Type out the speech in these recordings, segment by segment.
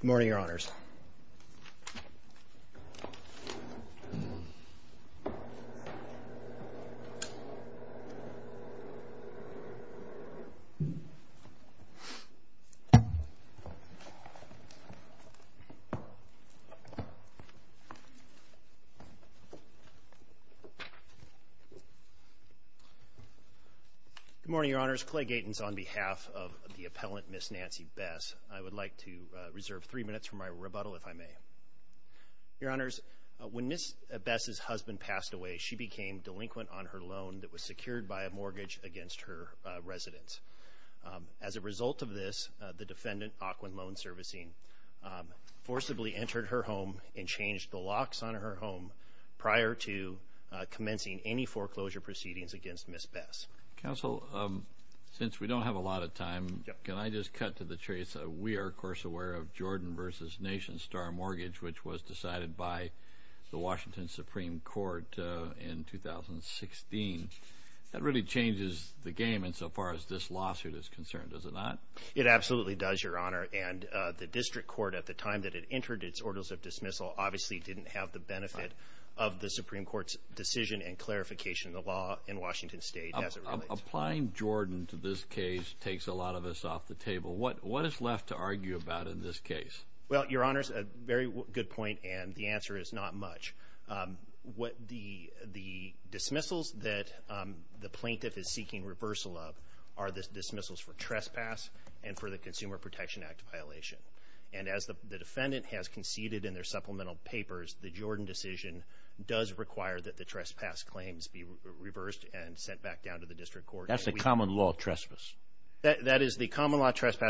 Good morning, Your Honors. Good morning, Your Honors. Clay Gatens on behalf of the appellant, Ms. Nancy Bess, I reserve three minutes for my rebuttal, if I may. Your Honors, when Ms. Bess's husband passed away, she became delinquent on her loan that was secured by a mortgage against her residence. As a result of this, the defendant, Ocwen Loan Servicing, forcibly entered her home and changed the locks on her home prior to commencing any foreclosure proceedings against Ms. Bess. Counsel, since we don't have a lot of time, can I just cut to the chase? We are, of course, aware of Jordan v. Nation Star Mortgage, which was decided by the Washington Supreme Court in 2016. That really changes the game insofar as this lawsuit is concerned, does it not? It absolutely does, Your Honor, and the district court at the time that it entered its orders of dismissal obviously didn't have the benefit of the Supreme Court's decision and clarification of the law in Washington State. Applying Jordan to this case takes a lot of us off the table. What is left to argue about in this case? Well, Your Honors, a very good point, and the answer is not much. The dismissals that the plaintiff is seeking reversal of are the dismissals for trespass and for the Consumer Protection Act violation, and as the defendant has conceded in their supplemental papers, the Jordan decision does require that the trespass claims be reversed and sent back down to the district court. That's a common law trespass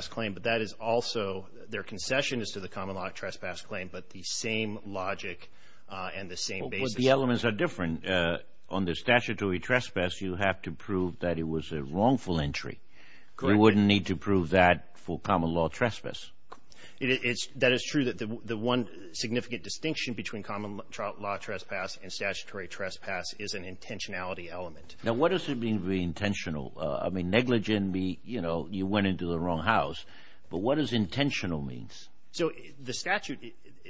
claim, but that is also, their concession is to the common law trespass claim, but the same logic and the same basis. But the elements are different. On the statutory trespass, you have to prove that it was a wrongful entry. You wouldn't need to prove that for common law trespass. That is true that the one significant distinction between common law trespass and statutory trespass is an intentionality element. Now, what does it mean that you went into the wrong house? But what does intentional mean? So the statute,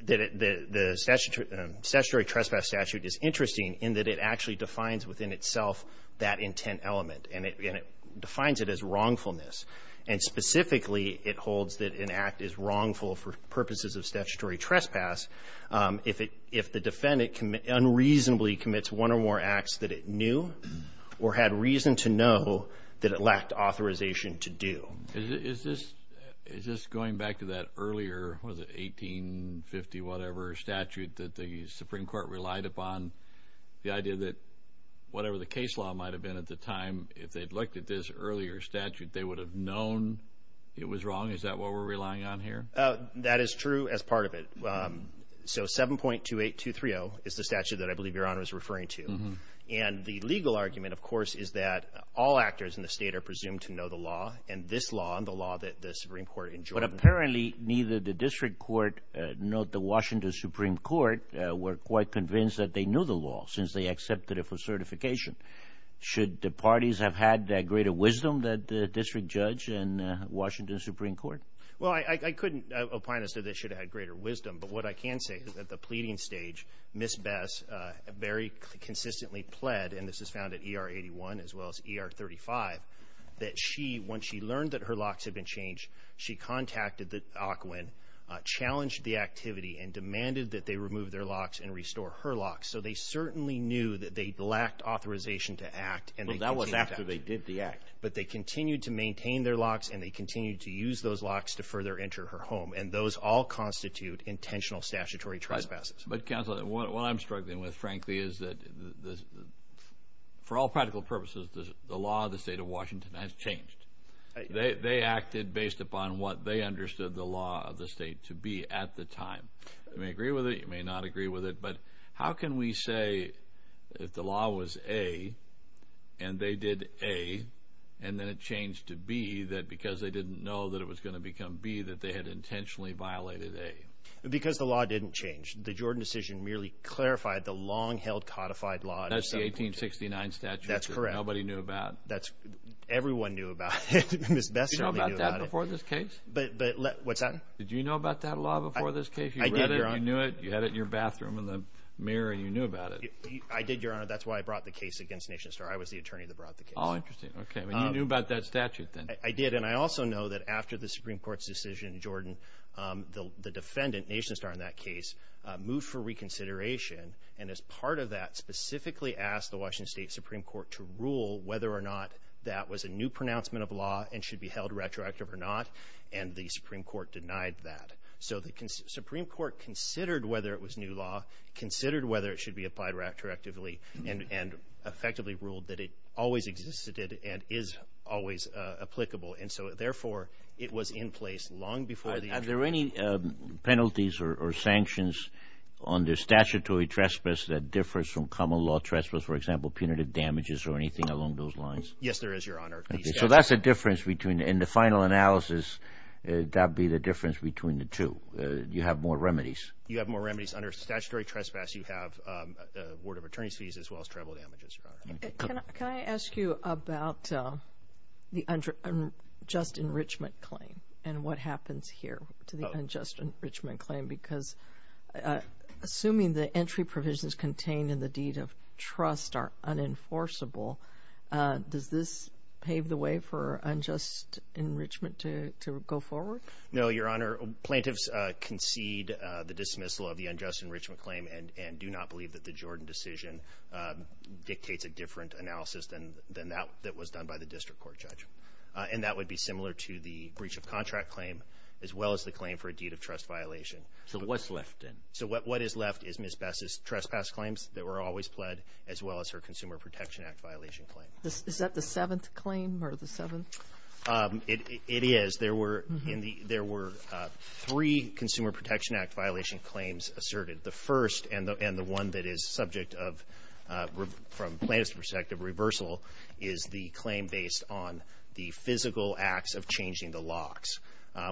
the statutory trespass statute is interesting in that it actually defines within itself that intent element, and it defines it as wrongfulness. And specifically, it holds that an act is wrongful for purposes of statutory trespass if the defendant unreasonably commits one or more acts that it knew or had reason to know that it lacked authorization to do. Is this going back to that earlier, was it 1850, whatever statute that the Supreme Court relied upon? The idea that whatever the case law might have been at the time, if they'd looked at this earlier statute, they would have known it was wrong? Is that what we're relying on here? That is true as part of it. So 7.28230 is the statute that I believe Your Honor is referring to. And the legal argument, of course, is that all actors in the state are presumed to know the law, and this law and the law that the Supreme Court enjoined. But apparently, neither the District Court nor the Washington Supreme Court were quite convinced that they knew the law, since they accepted it for certification. Should the parties have had that greater wisdom that the District Judge and Washington Supreme Court? Well, I couldn't opine as to this should have had greater wisdom. But what I can say is that the pleading stage, Ms. Bess, very consistently pled, and this is found at ER 81 as well as ER 35, that she, when she learned that her locks had been changed, she contacted the Ocwen, challenged the activity, and demanded that they remove their locks and restore her locks. So they certainly knew that they lacked authorization to act. And that was after they did the act. But they continued to maintain their locks, and they continued to use those locks to further enter her home. And those all constitute intentional statutory trespasses. But Counselor, what I'm struggling with, frankly, is that for all practical purposes, the law of the state of Washington has changed. They acted based upon what they understood the law of the state to be at the time. You may agree with it, you may not agree with it, but how can we say if the law was A, and they did A, and then it changed to B, that because they didn't know that it was going to become B, that they had intentionally violated A? Because the law didn't change. The Jordan decision merely clarified the long-held codified law. That's the 1869 statute. That's correct. Nobody knew about. That's, everyone knew about it. Ms. Bess certainly knew about it. Did you know about that before this case? But, but, what's that? Did you know about that law before this case? I did, Your Honor. You read it, you knew it, you had it in your mind. I was the attorney that brought the case against Nation Star. I was the attorney that brought the case. Oh, interesting. Okay, you knew about that statute then. I did, and I also know that after the Supreme Court's decision, Jordan, the defendant, Nation Star, in that case, moved for reconsideration, and as part of that, specifically asked the Washington State Supreme Court to rule whether or not that was a new pronouncement of law and should be held retroactive or not, and the Supreme Court denied that. So the Supreme Court considered whether it was new law, considered whether it should be modified retroactively, and effectively ruled that it always existed and is always applicable, and so, therefore, it was in place long before. Are there any penalties or sanctions under statutory trespass that differs from common law trespass, for example, punitive damages or anything along those lines? Yes, there is, Your Honor. Okay, so that's a difference between, in the final analysis, that'd be the difference between the two. You have more remedies. You have more remedies under statutory trespass. You have a ward of attorney's fees as well as tribal damages, Your Honor. Can I ask you about the unjust enrichment claim and what happens here to the unjust enrichment claim, because assuming the entry provisions contained in the deed of trust are unenforceable, does this pave the way for unjust enrichment to go forward? No, Your Honor. Plaintiffs concede the dismissal of the unjust enrichment claim and do not believe that the Jordan decision dictates a different analysis than that that was done by the district court judge, and that would be similar to the breach of contract claim as well as the claim for a deed of trust violation. So what's left then? So what is left is Ms. Bess's trespass claims that were always pled as well as her Consumer Protection Act violation claim. Is that the seventh claim or the seventh? It is. There were three Consumer Protection Act violation claims asserted. The first and the one that is subject of, from plaintiffs' perspective, reversal, is the claim based on the physical acts of changing the locks,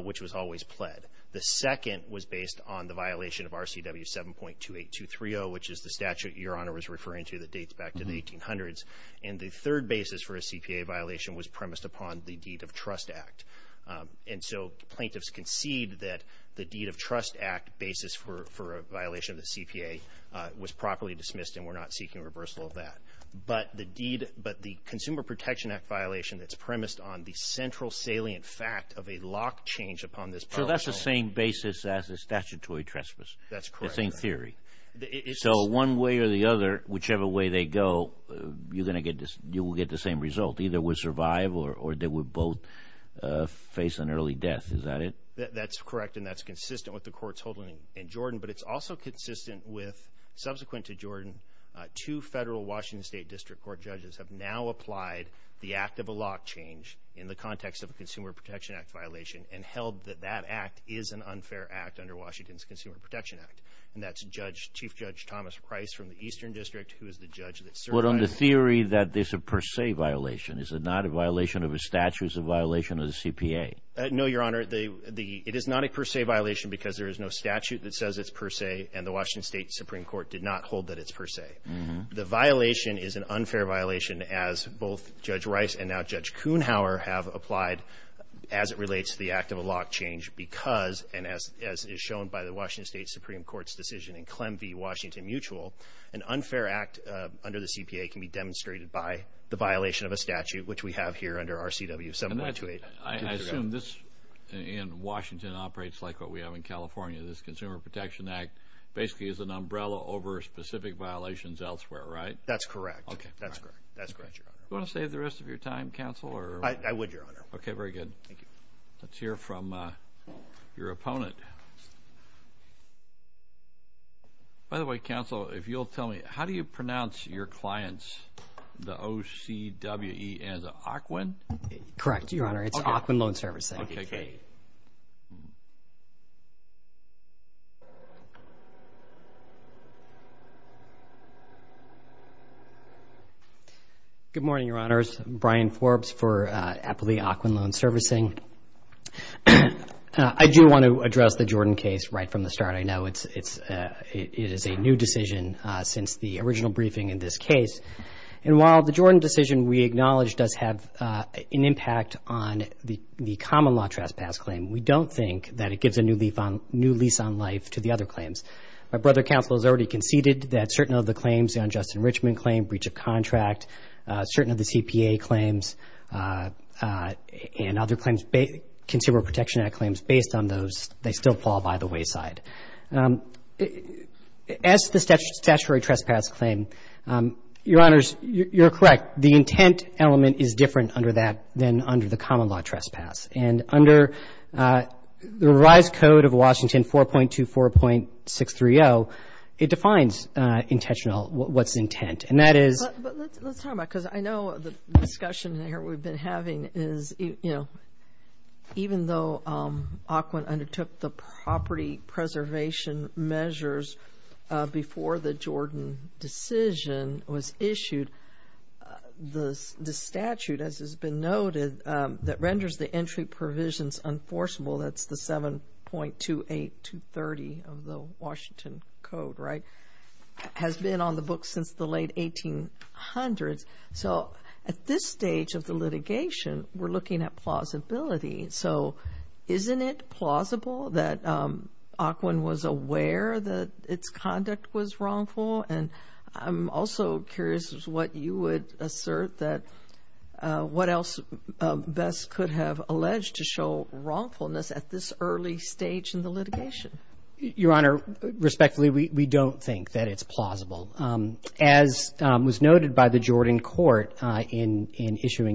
which was always pled. The second was based on the violation of RCW 7.28230, which is the statute Your Honor was referring to that dates back to the 1800s. And the third basis for a CPA violation was premised upon the Deed of Trust Act. And so plaintiffs concede that the Deed of Trust Act basis for a violation of the CPA was properly dismissed and we're not seeking reversal of that. But the deed, but the Consumer Protection Act violation that's premised on the central salient fact of a lock change upon this property. So that's the same basis as a statutory trespass? That's correct. The same theory. So one way or the other, whichever way they go, you're going to get this, you will get the same result. Either we survive or they would both face an early death. Is that it? That's correct and that's consistent with the court's holding in Jordan. But it's also consistent with, subsequent to Jordan, two federal Washington State District Court judges have now applied the act of a lock change in the context of a Consumer Protection Act violation and held that that act is an unfair act under Washington's Consumer Protection Act. And that's Judge, Chief Judge Thomas Price from the Eastern District, who is the judge that survived. But on the theory that this is a per se violation, is it not a violation of a statute, is it a violation of the CPA? No, Your Honor. It is not a per se violation because there is no statute that says it's per se and the Washington State Supreme Court did not hold that it's per se. The violation is an unfair violation as both Judge Rice and now Judge Kuhnhauer have applied as it relates to the act of a lock change because, and as is shown by the in Clem v. Washington Mutual, an unfair act under the CPA can be demonstrated by the violation of a statute, which we have here under RCW 7128. I assume this in Washington operates like what we have in California. This Consumer Protection Act basically is an umbrella over specific violations elsewhere, right? That's correct. Okay. That's correct. That's correct, Your Honor. Do you want to save the rest of your time, counsel? I would, Your Honor. Okay, very good. Thank you. Let's hear from your opponent. By the way, counsel, if you'll tell me, how do you pronounce your clients, the OCWE and the Ocwen? Correct, Your Honor. It's Ocwen Loan Servicing. Okay. Good morning, Your Honors. Brian Forbes for Appley Ocwen Loan Servicing. I do want to address the Jordan case right from the start. I know it's, it is a new decision since the original briefing in this case. And while the Jordan decision we acknowledge does have an impact on the common law trespass claim, we don't think that it gives a new lease on life to the other claims. My brother counsel has already conceded that certain of the claims, the unjust enrichment claim, breach of contract, certain of the CPA claims, and other claims, consumer protection act claims, based on those, they still fall by the wayside. As to the statutory trespass claim, Your Honors, you're correct. The intent element is different under that than under the common law trespass. And under the rise code of Washington 4.24.630, it defines intentional, what's intent. And that is... But let's talk about, because I know the discussion here we've been having is, you know, even though Ocwen undertook the property preservation measures before the Jordan decision was issued, the statute, as has been noted, that renders the entry provisions unforceable, that's the 7.28230 of the Washington Code, right, has been on the books since the late 1800s. So at this stage of the litigation, we're looking at plausibility. So isn't it plausible that Ocwen was aware that its conduct was wrongful? And I'm also curious as to what you would assert that, what else best could have alleged to show wrongfulness at this early stage in the litigation? Your Honor, respectfully, we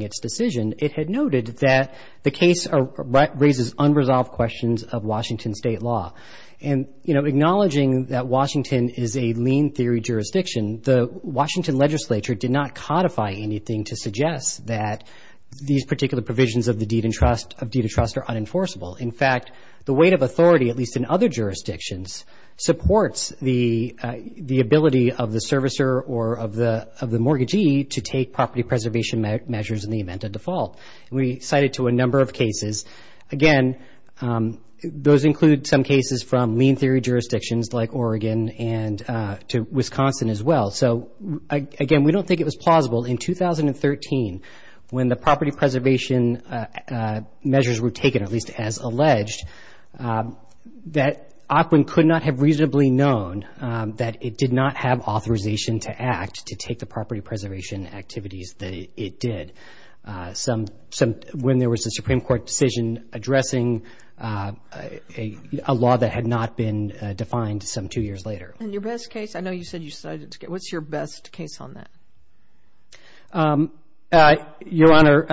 its decision, it had noted that the case raises unresolved questions of Washington state law. And, you know, acknowledging that Washington is a lien theory jurisdiction, the Washington legislature did not codify anything to suggest that these particular provisions of the deed of trust are unenforceable. In fact, the weight of authority, at least in other jurisdictions, supports the ability of the event of default. We cited to a number of cases. Again, those include some cases from lien theory jurisdictions like Oregon and to Wisconsin as well. So again, we don't think it was plausible in 2013 when the property preservation measures were taken, at least as alleged, that Ocwen could not have reasonably known that it did not have authorization to act to take the property preservation activities that it did. When there was a Supreme Court decision addressing a law that had not been defined some two years later. And your best case, I know you said you cited, what's your best case on that? Your Honor,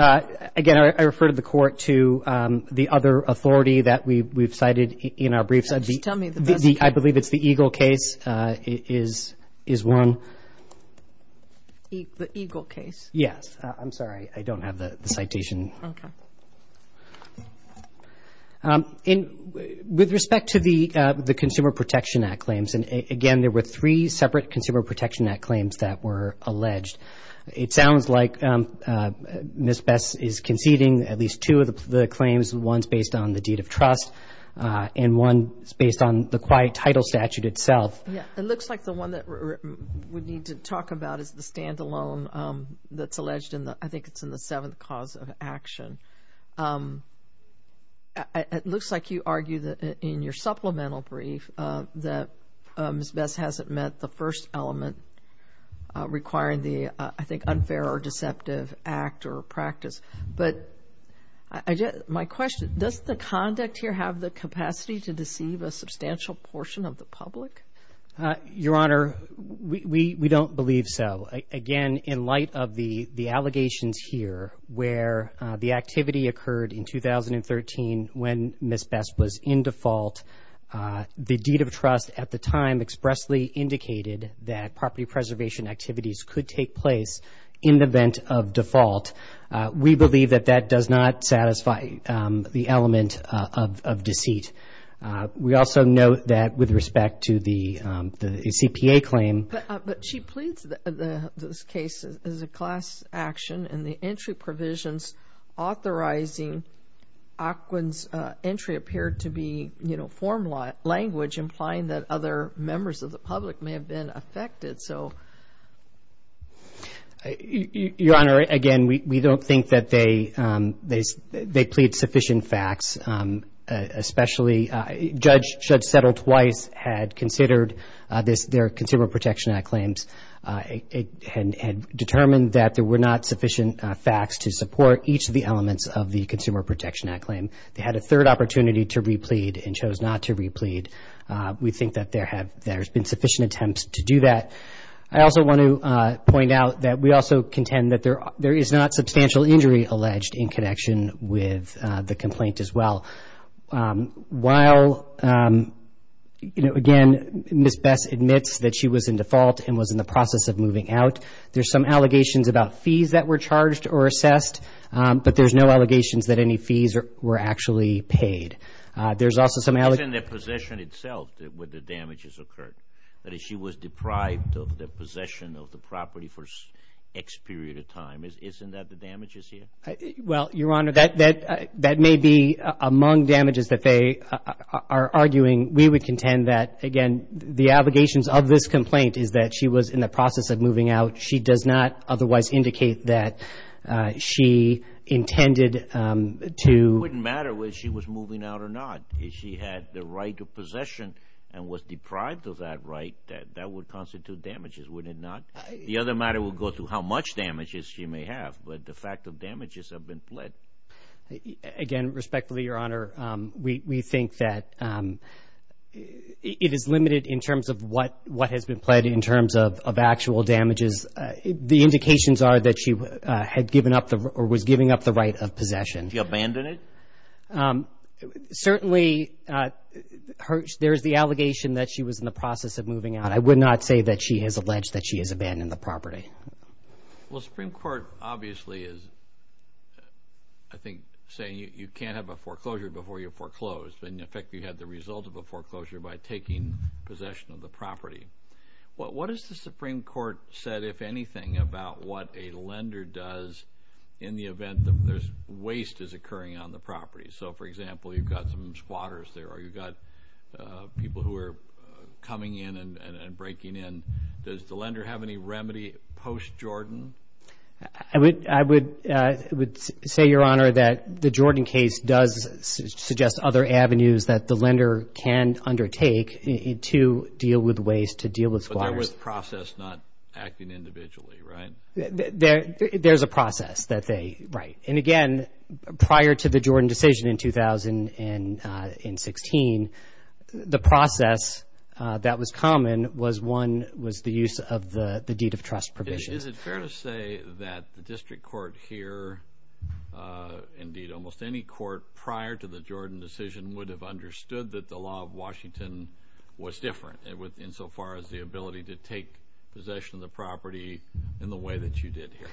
again, I refer to the court to the other authority that we've cited in our briefs. I believe it's the Eagle case. Yes. I'm sorry. I don't have the citation. Okay. With respect to the Consumer Protection Act claims, and again, there were three separate Consumer Protection Act claims that were alleged. It sounds like Ms. Bess is conceding at least two of the claims. One's based on the deed of trust and one's based on the deed of trust. The other one that I would need to talk about is the stand-alone that's alleged in the, I think it's in the seventh cause of action. It looks like you argue that in your supplemental brief that Ms. Bess hasn't met the first element requiring the, I think, unfair or deceptive act or practice. But my question, does the conduct here have the capacity to deceive a substantial portion of the public? Your Honor, we don't believe so. Again, in light of the allegations here where the activity occurred in 2013 when Ms. Bess was in default, the deed of trust at the time expressly indicated that property preservation activities could take place in the event of default. We believe that that does not satisfy the element of deceit. We also note that with respect to the CPA claim... But she pleads that this case is a class action and the entry provisions authorizing Ocwen's entry appeared to be, you know, form language implying that other members of the public may have been affected. So... Your Honor, they plead sufficient facts, especially Judge Settle-Twice had considered their Consumer Protection Act claims and determined that there were not sufficient facts to support each of the elements of the Consumer Protection Act claim. They had a third opportunity to replead and chose not to replead. We think that there have been sufficient attempts to do that. I also want to point out that we also contend that there is not substantial injury alleged in connection with the complaint as well. While, you know, again, Ms. Bess admits that she was in default and was in the process of moving out, there's some allegations about fees that were charged or assessed, but there's no allegations that any fees were actually paid. There's also some... It's in the possession itself where the damage has occurred. That is, she was deprived of the property for X period of time. Isn't that the damages here? Well, Your Honor, that may be among damages that they are arguing. We would contend that, again, the allegations of this complaint is that she was in the process of moving out. She does not otherwise indicate that she intended to... It wouldn't matter whether she was moving out or not. If she had the right to possession and was deprived of that right, that would constitute damages, would it not? The other matter will go to how much damages she may have, but the fact of damages have been pled. Again, respectfully, Your Honor, we think that it is limited in terms of what has been pled in terms of actual damages. The indications are that she had given up or was giving up the right of possession. She abandoned it? Certainly, there's the allegation that she was in the process of moving out. I would not say that she has alleged that she has abandoned the property. Well, Supreme Court obviously is, I think, saying you can't have a foreclosure before you foreclose. In effect, you have the result of a foreclosure by taking possession of the property. What has the Supreme Court said, if anything, about what a lender does in the event that there's waste is occurring on the property? For example, you've got some squatters there, or you've got people who are coming in and breaking in. Does the lender have any remedy post-Jordan? I would say, Your Honor, that the Jordan case does suggest other avenues that the lender can undertake to deal with waste, to deal with squatters. But there was process not acting individually, right? There's a process that they, right. And again, prior to the Jordan decision in 2016, the process that was common was, one, was the use of the deed of trust provision. Is it fair to say that the district court here, indeed almost any court prior to the Jordan decision, would have understood that the law of Washington was different, insofar as the ability to take possession of the property in the way that you did here?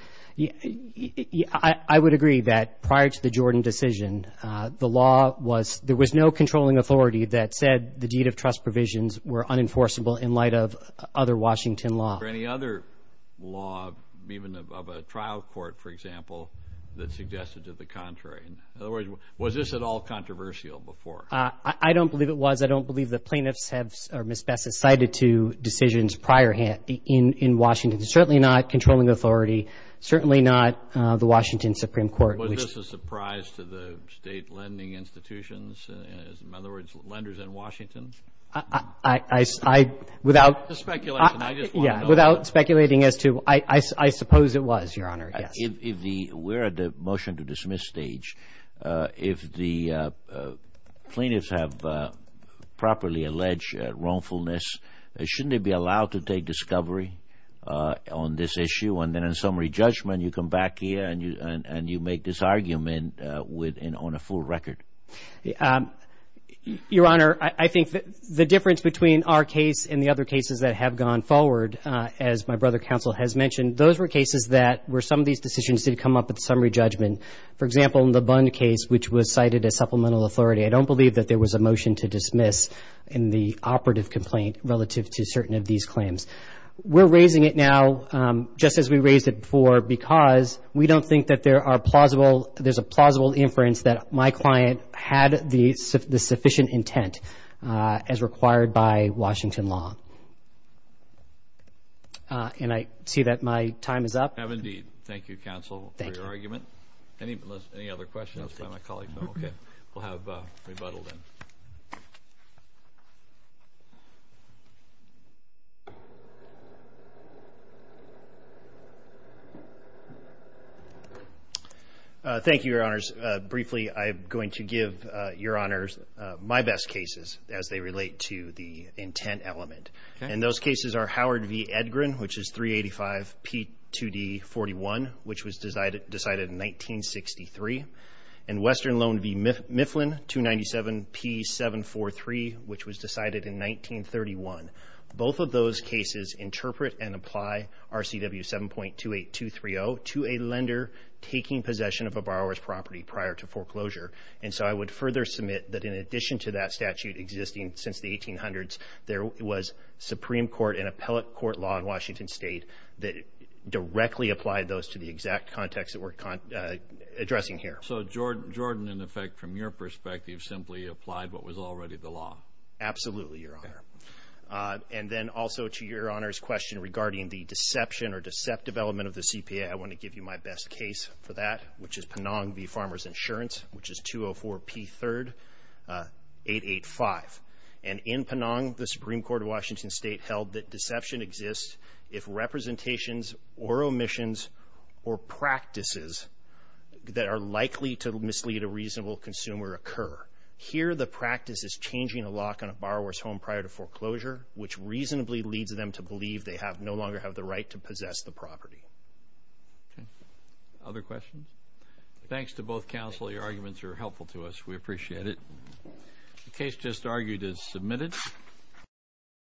Yeah, I would agree that prior to the Jordan decision, the law was, there was no controlling authority that said the deed of trust provisions were unenforceable in light of other Washington law. Or any other law, even of a trial court, for example, that suggested to the contrary. In other words, was this at all controversial before? I don't believe it was. I don't believe the plaintiffs have, or Ms. Bessett, cited to decisions prior in Washington. Certainly not controlling authority, certainly not the Washington Supreme Court. Was this a surprise to the state lending institutions? In other words, lenders in Washington? I, I, I, without, yeah, without speculating as to, I, I suppose it was, Your Honor. If the, we're at the motion to dismiss stage. If the plaintiffs have properly alleged wrongfulness, shouldn't they be allowed to take discovery on this issue? And then in summary judgment, you come back here and you, and, and you make this argument with, and on a full record. Your Honor, I, I think that the difference between our case and the other cases that have gone forward, as my brother counsel has mentioned, those were cases that were some of these decisions did come up at summary judgment. For example, in the Bund case, which was cited as supplemental authority, I don't believe that there was a motion to dismiss in the operative complaint relative to certain of these claims. We're raising it now, just as we raised it before, because we don't think that there are plausible, there's a plausible inference that my client had the, the sufficient intent as required by Washington law. And I see that my time is up. I have indeed. Thank you, counsel, for your argument. Thank you. Any, any other questions from my colleague? No, okay. We'll have rebuttal then. Thank you, Your Honors. Briefly, I'm going to give Your Honors my best cases as they relate to the intent element. And those cases are Howard v. Edgren, which is 385P2D41, which was decided, decided in 1963. And Western Lone v. Edgren, which is 385P2D41. Both of those cases interpret and apply RCW 7.28230 to a lender taking possession of a borrower's property prior to foreclosure. And so I would further submit that in addition to that statute existing since the 1800s, there was Supreme Court and appellate court law in Washington state that directly applied those to the exact context that we're addressing here. So Jordan, in effect, from your perspective, simply applied what was already the law? Absolutely, Your Honor. And then also to Your Honor's question regarding the deception or deceptive element of the CPA, I want to give you my best case for that, which is Penong v. Farmer's Insurance, which is 204P3R885. And in Penong, the Supreme Court of Washington state held that deception exists if representations or omissions or practices that are likely to mislead a reasonable consumer occur. Here, the practice is changing a lock on a borrower's home prior to foreclosure, which reasonably leads them to believe they no longer have the right to possess the property. Okay. Other questions? Thanks to both counsel. Your arguments are helpful to us. We appreciate it. The case just argued is submitted.